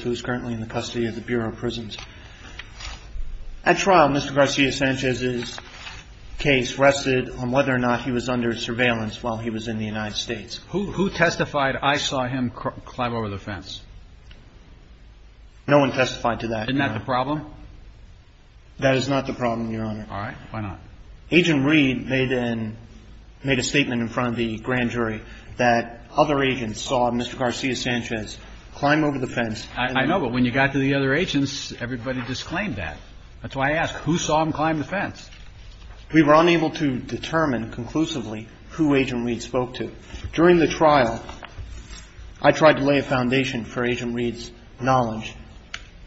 who is currently in the custody of the Bureau of Prisons. At trial, Mr. Garcia-Sanchez's case rested on whether or not he was under surveillance while he was in the United States. And in this case, who testified I saw him climb over the fence? No one testified to that, Your Honor. Isn't that the problem? That is not the problem, Your Honor. All right. Why not? Agent Reed made a statement in front of the grand jury that other agents saw Mr. Garcia-Sanchez climb over the fence. I know. But when you got to the other agents, everybody disclaimed that. That's why I ask, who saw him climb the fence? We were unable to determine conclusively who Agent Reed spoke to. During the trial, I tried to lay a foundation for Agent Reed's knowledge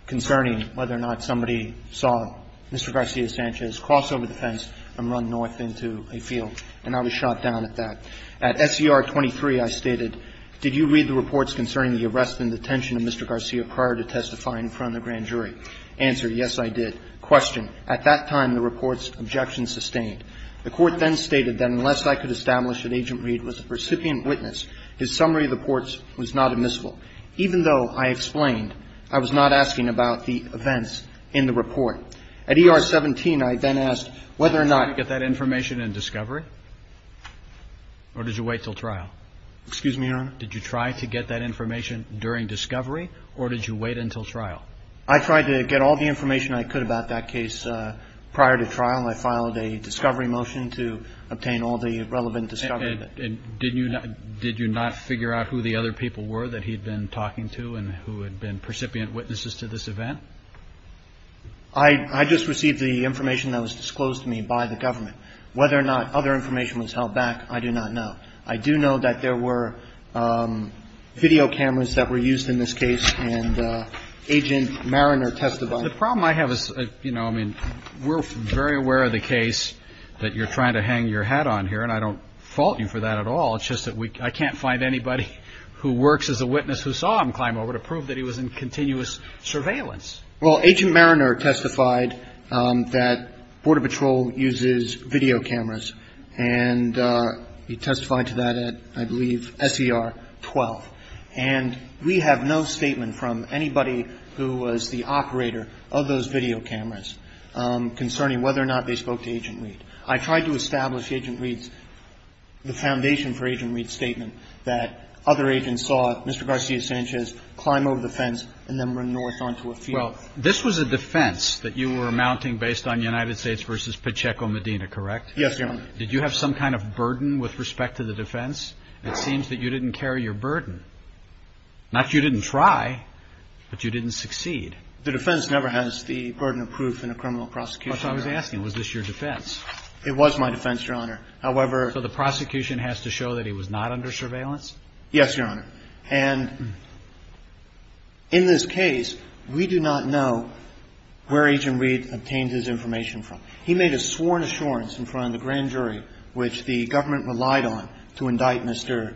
concerning whether or not somebody saw Mr. Garcia-Sanchez cross over the fence and run north into a field, and I was shot down at that. At SCR 23, I stated, Did you read the reports concerning the arrest and detention of Mr. Garcia prior to testifying in front of the grand jury? Answer, yes, I did. The court then stated that unless I could establish that Agent Reed was a recipient witness, his summary of the reports was not admissible. Even though I explained, I was not asking about the events in the report. At ER 17, I then asked whether or not Did you try to get that information in discovery, or did you wait until trial? Excuse me, Your Honor? Did you try to get that information during discovery, or did you wait until trial? I tried to get all the information I could about that case prior to trial. I filed a discovery motion to obtain all the relevant discovery. And did you not figure out who the other people were that he'd been talking to, and who had been precipient witnesses to this event? I just received the information that was disclosed to me by the government. Whether or not other information was held back, I do not know. I do know that there were video cameras that were used in this case, and Agent Mariner testified. The problem I have is, you know, I mean, we're very aware of the case that you're trying to hang your hat on here. And I don't fault you for that at all. It's just that I can't find anybody who works as a witness who saw him climb over to prove that he was in continuous surveillance. Well, Agent Mariner testified that Border Patrol uses video cameras. And he testified to that at, I believe, S.E.R. 12. And we have no statement from anybody who was the operator of those video cameras concerning whether or not they spoke to Agent Reed. I tried to establish the Agent Reed's – the foundation for Agent Reed's statement that other agents saw Mr. Garcia-Sanchez climb over the fence and then run north onto a field. Well, this was a defense that you were mounting based on United States v. Pacheco Medina, correct? Yes, Your Honor. Did you have some kind of burden with respect to the defense? It seems that you didn't carry your burden. Not that you didn't try, but you didn't succeed. The defense never has the burden of proof in a criminal prosecution. That's what I was asking. Was this your defense? It was my defense, Your Honor. However – So the prosecution has to show that he was not under surveillance? Yes, Your Honor. And in this case, we do not know where Agent Reed obtained his information from. He made a sworn assurance in front of the grand jury which the government relied on to indict Mr.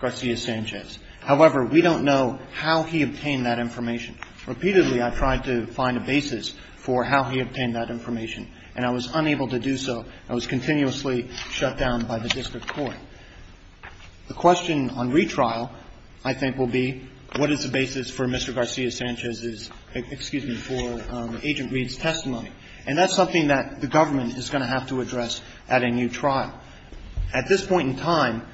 Garcia-Sanchez. However, we don't know how he obtained that information. Repeatedly, I tried to find a basis for how he obtained that information, and I was unable to do so. I was continuously shut down by the district court. The question on retrial, I think, will be what is the basis for Mr. Garcia-Sanchez's – excuse me, for Agent Reed's testimony. And that's something that the government is going to have to address at a new trial. At this point in time,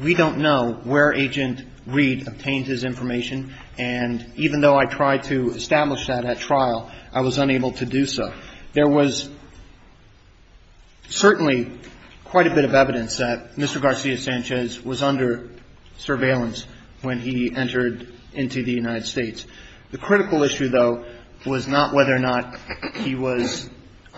we don't know where Agent Reed obtained his information, and even though I tried to establish that at trial, I was unable to do so. There was certainly quite a bit of evidence that Mr. Garcia-Sanchez was under surveillance when he entered into the United States. The critical issue, though, was not whether or not he was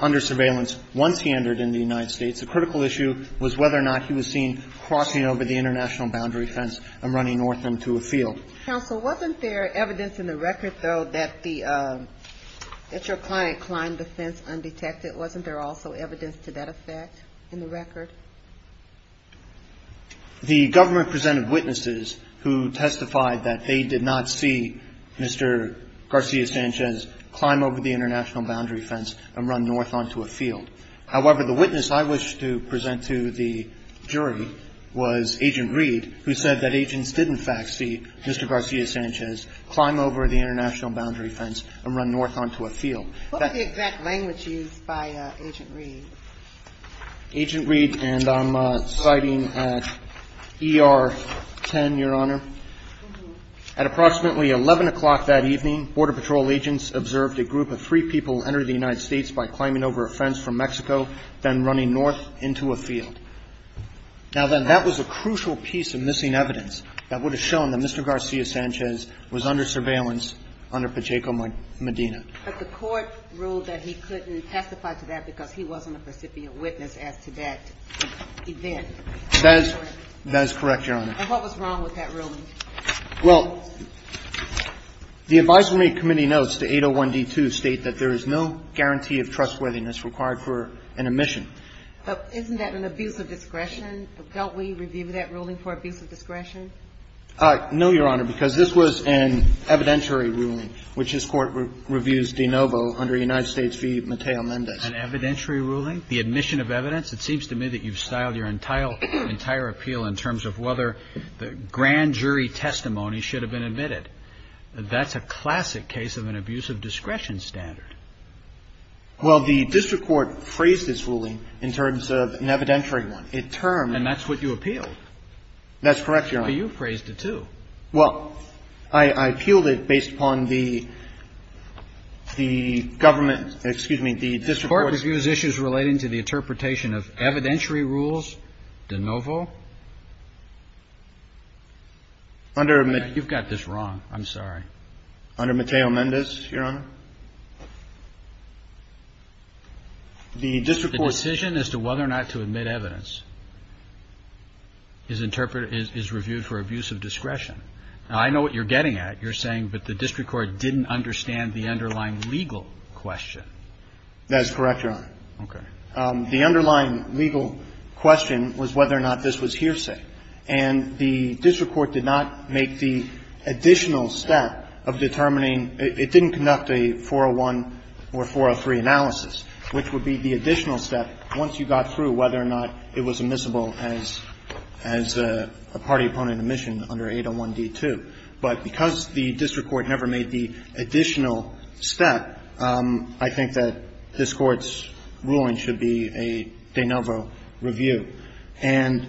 under surveillance once he entered into the United States. The critical issue was whether or not he was seen crossing over the international boundary fence and running north into a field. Counsel, wasn't there evidence in the record, though, that the – that your client climbed the fence undetected? Wasn't there also evidence to that effect in the record? The government presented witnesses who testified that they did not see Mr. Garcia-Sanchez climb over the international boundary fence and run north onto a field. However, the witness I wish to present to the jury was Agent Reed, who said that agents did, in fact, see Mr. Garcia-Sanchez climb over the international boundary fence and run north onto a field. What was the exact language used by Agent Reed? Agent Reed, and I'm citing ER-10, Your Honor. At approximately 11 o'clock that evening, Border Patrol agents observed a group of three people enter the United States by climbing over a fence from Mexico, then running north into a field. Now, then, that was a crucial piece of missing evidence that would have shown that Mr. Garcia-Sanchez was under surveillance under Pacheco-Medina. But the court ruled that he couldn't testify to that because he wasn't a recipient witness as to that event. That is correct, Your Honor. And what was wrong with that ruling? Well, the advisory committee notes to 801D2 state that there is no guarantee of trustworthiness required for an omission. Isn't that an abuse of discretion? Don't we review that ruling for abuse of discretion? No, Your Honor, because this was an evidentiary ruling, which this Court reviews de novo under United States v. Mateo Mendez. An evidentiary ruling? The admission of evidence? It seems to me that you've styled your entire appeal in terms of whether the grand jury testimony should have been admitted. That's a classic case of an abuse of discretion standard. Well, the district court phrased this ruling in terms of an evidentiary one. It termed And that's what you appealed. That's correct, Your Honor. Well, you phrased it, too. Well, I appealed it based upon the government, excuse me, the district court. The court reviews issues relating to the interpretation of evidentiary rules de novo. You've got this wrong. Under Mateo Mendez, Your Honor. The district court. The decision as to whether or not to admit evidence is interpreted, is reviewed for abuse of discretion. Now, I know what you're getting at. You're saying that the district court didn't understand the underlying legal question. That's correct, Your Honor. Okay. The underlying legal question was whether or not this was hearsay. And the district court did not make the additional step of determining It didn't conduct a 401 or 403 analysis, which would be the additional step once you got through whether or not it was admissible as a party opponent admission under 801D2. But because the district court never made the additional step, I think that this court's ruling should be a de novo review. And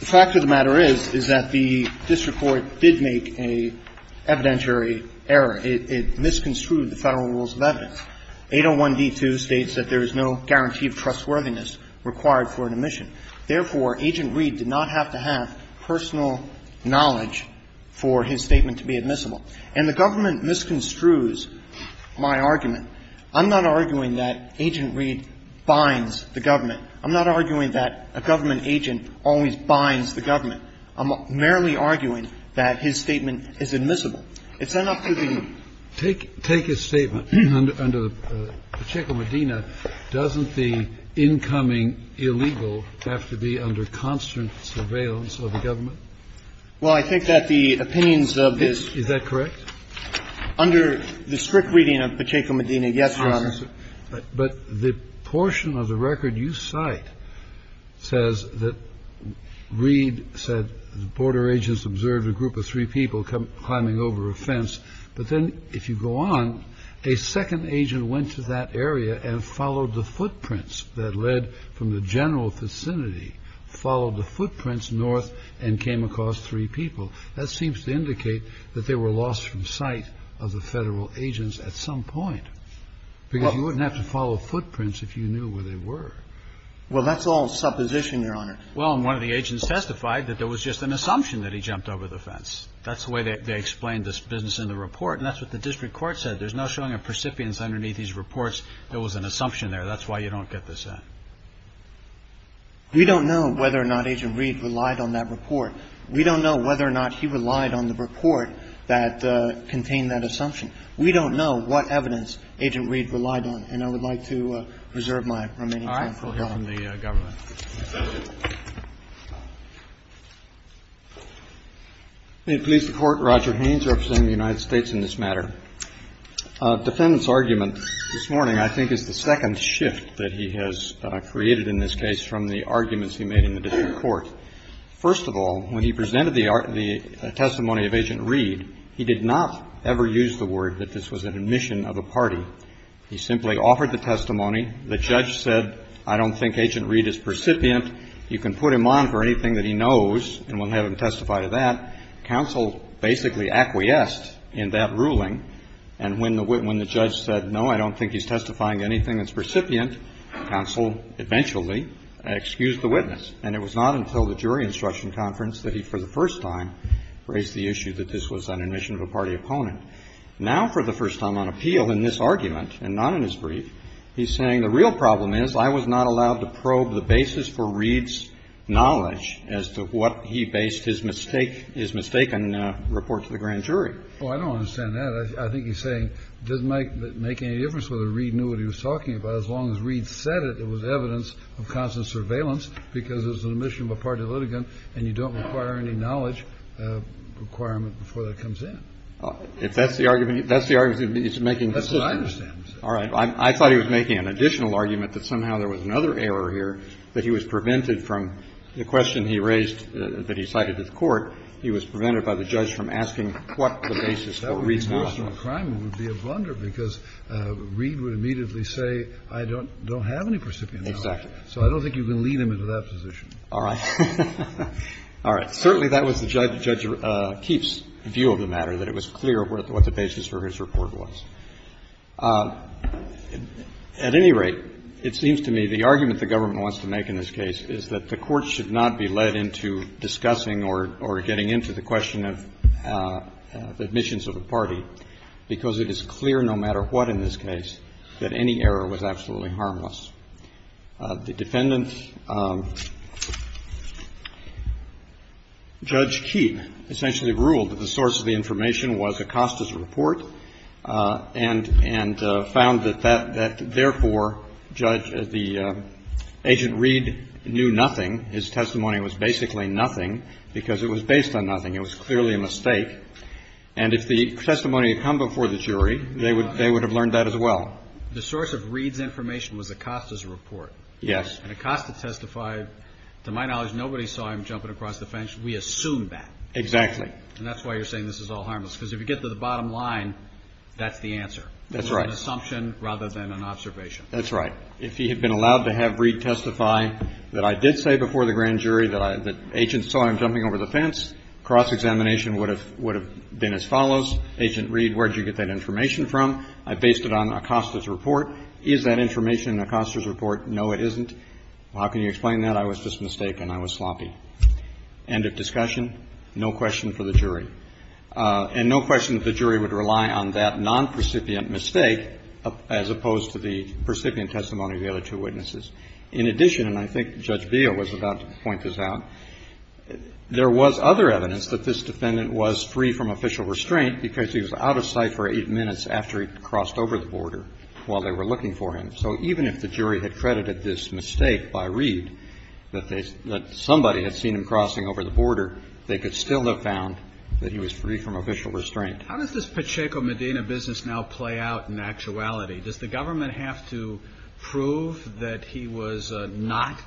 the fact of the matter is, is that the district court did make an evidentiary error. It misconstrued the Federal Rules of Evidence. 801D2 states that there is no guarantee of trustworthiness required for an admission. Therefore, Agent Reed did not have to have personal knowledge for his statement to be admissible. And the government misconstrues my argument. I'm not arguing that Agent Reed binds the government. I'm not arguing that a government agent always binds the government. I'm merely arguing that his statement is admissible. It's enough to be ---- Take his statement under Pacheco-Medina. Doesn't the incoming illegal have to be under constant surveillance of the government? Well, I think that the opinions of this ---- Is that correct? Under the strict reading of Pacheco-Medina, yes, Your Honor. But the portion of the record you cite says that Reed said the border agents observed a group of three people climbing over a fence. But then if you go on, a second agent went to that area and followed the footprints that led from the general vicinity, followed the footprints north and came across three people. That seems to indicate that they were lost from sight of the Federal agents at some point. Because you wouldn't have to follow footprints if you knew where they were. Well, that's all supposition, Your Honor. Well, and one of the agents testified that there was just an assumption that he jumped over the fence. That's the way they explained this business in the report. And that's what the district court said. There's no showing of percipience underneath these reports. There was an assumption there. That's why you don't get this in. We don't know whether or not Agent Reed relied on that report. We don't know whether or not he relied on the report that contained that assumption. We don't know what evidence Agent Reed relied on. And I would like to reserve my remaining time for comment. All right. We'll hear from the Governor. May it please the Court. Roger Haynes representing the United States in this matter. A defendant's argument this morning I think is the second shift that he has created in this case from the arguments he made in the district court. First of all, when he presented the testimony of Agent Reed, he did not ever use the word that this was an admission of a party. He simply offered the testimony. The judge said, I don't think Agent Reed is percipient. You can put him on for anything that he knows and we'll have him testify to that. Counsel basically acquiesced in that ruling. And when the judge said, no, I don't think he's testifying to anything that's percipient, counsel eventually excused the witness. And it was not until the jury instruction conference that he for the first time raised the issue that this was an admission of a party opponent. Now for the first time on appeal in this argument and not in his brief, he's saying the real problem is I was not allowed to probe the basis for Reed's knowledge as to what he based his mistake, his mistaken report to the grand jury. Oh, I don't understand that. I think he's saying it doesn't make any difference whether Reed knew what he was talking about as long as Reed said it, it was evidence of constant surveillance because it was an admission of a party litigant and you don't require any knowledge requirement before that comes in. If that's the argument, that's the argument he's making. That's what I understand. All right. I thought he was making an additional argument that somehow there was another error here that he was prevented from the question he raised that he cited to the court. He was prevented by the judge from asking what the basis for Reed's knowledge. I don't think personal crime would be a blunder because Reed would immediately say I don't have any percipient knowledge. Exactly. So I don't think you can lead him into that position. All right. All right. Certainly that was the judge's view of the matter, that it was clear what the basis for his report was. At any rate, it seems to me the argument the government wants to make in this case is that the court should not be led into discussing or getting into the question of admissions of a party because it is clear no matter what in this case that any error was absolutely harmless. The defendant, Judge Keepe, essentially ruled that the source of the information was Acosta's report and found that therefore, Judge, the agent Reed knew nothing. His testimony was basically nothing because it was based on nothing. It was clearly a mistake. And if the testimony had come before the jury, they would have learned that as well. The source of Reed's information was Acosta's report. Yes. And Acosta testified. To my knowledge, nobody saw him jumping across the fence. We assume that. Exactly. And that's why you're saying this is all harmless because if you get to the bottom line, that's the answer. That's right. It was an assumption rather than an observation. That's right. If he had been allowed to have Reed testify that I did say before the grand jury that Agent saw him jumping over the fence, cross-examination would have been as follows. Agent Reed, where did you get that information from? I based it on Acosta's report. Is that information in Acosta's report? No, it isn't. How can you explain that? I was just mistaken. I was sloppy. End of discussion. No question for the jury. And no question that the jury would rely on that non-precipient mistake as opposed to the precipient testimony of the other two witnesses. In addition, and I think Judge Beal was about to point this out, there was other evidence that this defendant was free from official restraint because he was out of sight for eight minutes after he crossed over the border while they were looking for him. So even if the jury had credited this mistake by Reed, that somebody had seen him crossing over the border, they could still have found that he was free from official restraint. How does this Pacheco Medina business now play out in actuality? Does the government have to prove that he was not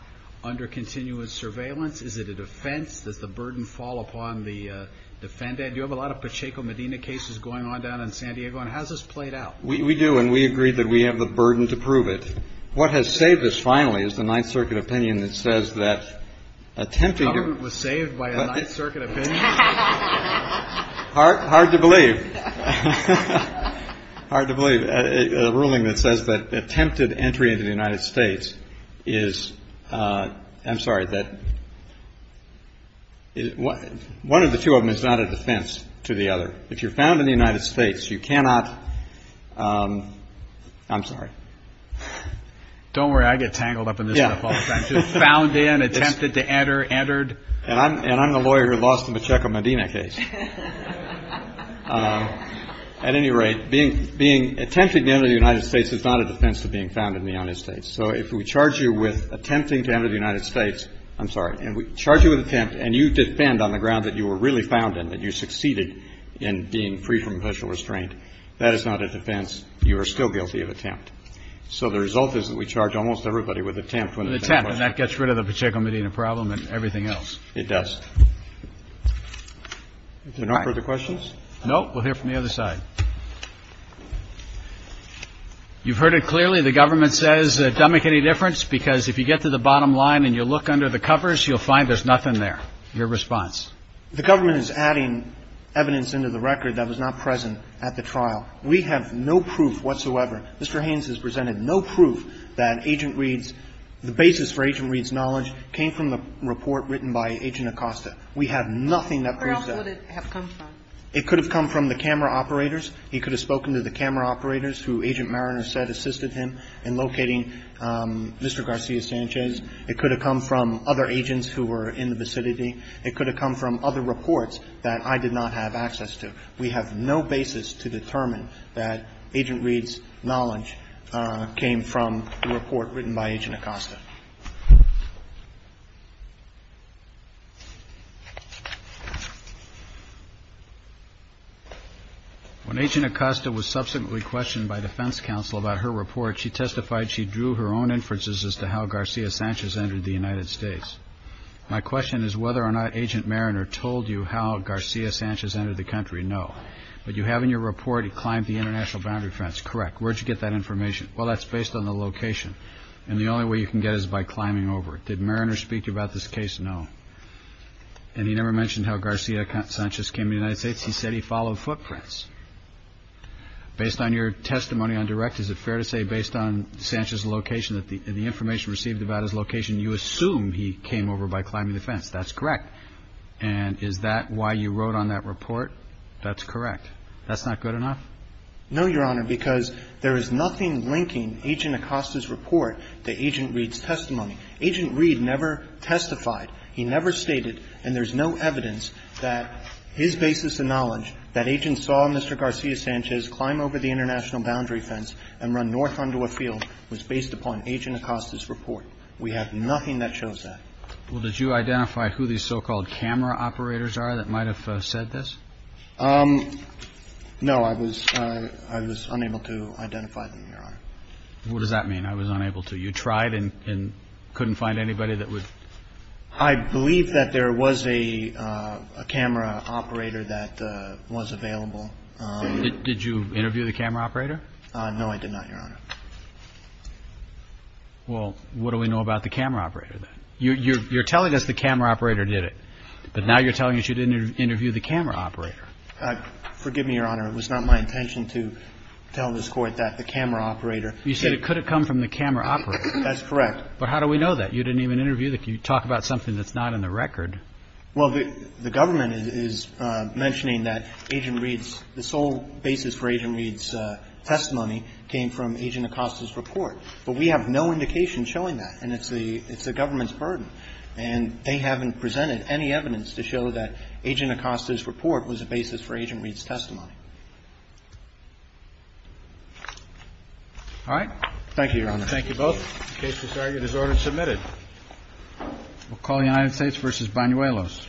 under continuous surveillance? Is it a defense? Does the burden fall upon the defendant? You have a lot of Pacheco Medina cases going on down in San Diego, and how's this played out? We do, and we agree that we have the burden to prove it. What has saved us, finally, is the Ninth Circuit opinion that says that attempting to— The government was saved by a Ninth Circuit opinion? Hard to believe. Hard to believe. A ruling that says that attempted entry into the United States is—I'm sorry. One of the two of them is not a defense to the other. If you're found in the United States, you cannot—I'm sorry. Don't worry. I get tangled up in this stuff all the time, too. Found in, attempted to enter, entered. And I'm the lawyer who lost the Pacheco Medina case. At any rate, being attempted to enter the United States is not a defense to being found in the United States. So if we charge you with attempting to enter the United States—I'm sorry. And we charge you with attempt, and you defend on the ground that you were really found in, that you succeeded in being free from official restraint, that is not a defense. You are still guilty of attempt. So the result is that we charge almost everybody with attempt when they— An attempt, and that gets rid of the Pacheco Medina problem and everything else. It does. All right. If there are no further questions? No. We'll hear from the other side. You've heard it clearly. The government says, does that make any difference? Because if you get to the bottom line and you look under the covers, you'll find there's nothing there. Your response? The government is adding evidence into the record that was not present at the trial. We have no proof whatsoever. Mr. Haynes has presented no proof that Agent Reed's—the basis for Agent Reed's knowledge came from the report written by Agent Acosta. We have nothing that proves that. Where else would it have come from? It could have come from the camera operators. He could have spoken to the camera operators who Agent Mariner said assisted him in locating Mr. Garcia Sanchez. It could have come from other agents who were in the vicinity. It could have come from other reports that I did not have access to. We have no basis to determine that Agent Reed's knowledge came from the report written by Agent Acosta. When Agent Acosta was subsequently questioned by defense counsel about her report, she testified she drew her own inferences as to how Garcia Sanchez entered the United States. My question is whether or not Agent Mariner told you how Garcia Sanchez entered the country. No. But you have in your report he climbed the international boundary fence. Correct. Where did you get that information? Well, that's based on the location. And the only way you can get it is by climbing over it. Did Mariner speak to you about this case? No. And he never mentioned how Garcia Sanchez came to the United States. He said he followed footprints. Based on your testimony on direct, is it fair to say based on Sanchez's location, the information received about his location, you assume he came over by climbing the fence? That's correct. And is that why you wrote on that report? That's correct. That's not good enough? No, Your Honor, because there is nothing linking Agent Acosta's report to Agent Reed's testimony. Agent Reed never testified. He never stated, and there's no evidence that his basis of knowledge that Agents saw Mr. Garcia Sanchez climb over the international boundary fence and run north onto a field was based upon Agent Acosta's report. We have nothing that shows that. Well, did you identify who these so-called camera operators are that might have said No, I was unable to identify them, Your Honor. What does that mean, I was unable to? You tried and couldn't find anybody that would? I believe that there was a camera operator that was available. Did you interview the camera operator? No, I did not, Your Honor. Well, what do we know about the camera operator then? You're telling us the camera operator did it, but now you're telling us you didn't interview the camera operator. Forgive me, Your Honor, it was not my intention to tell this Court that the camera operator did it. You said it could have come from the camera operator. That's correct. But how do we know that? You didn't even interview them. You talk about something that's not in the record. Well, the government is mentioning that Agent Reed's, the sole basis for Agent Reed's testimony came from Agent Acosta's report. But we have no indication showing that, and it's the government's burden. And they haven't presented any evidence to show that Agent Acosta's report was a basis for Agent Reed's testimony. All right. Thank you, Your Honor. Thank you both. The case is argued as ordered and submitted. We'll call the United States v. Banuelos. Thank you.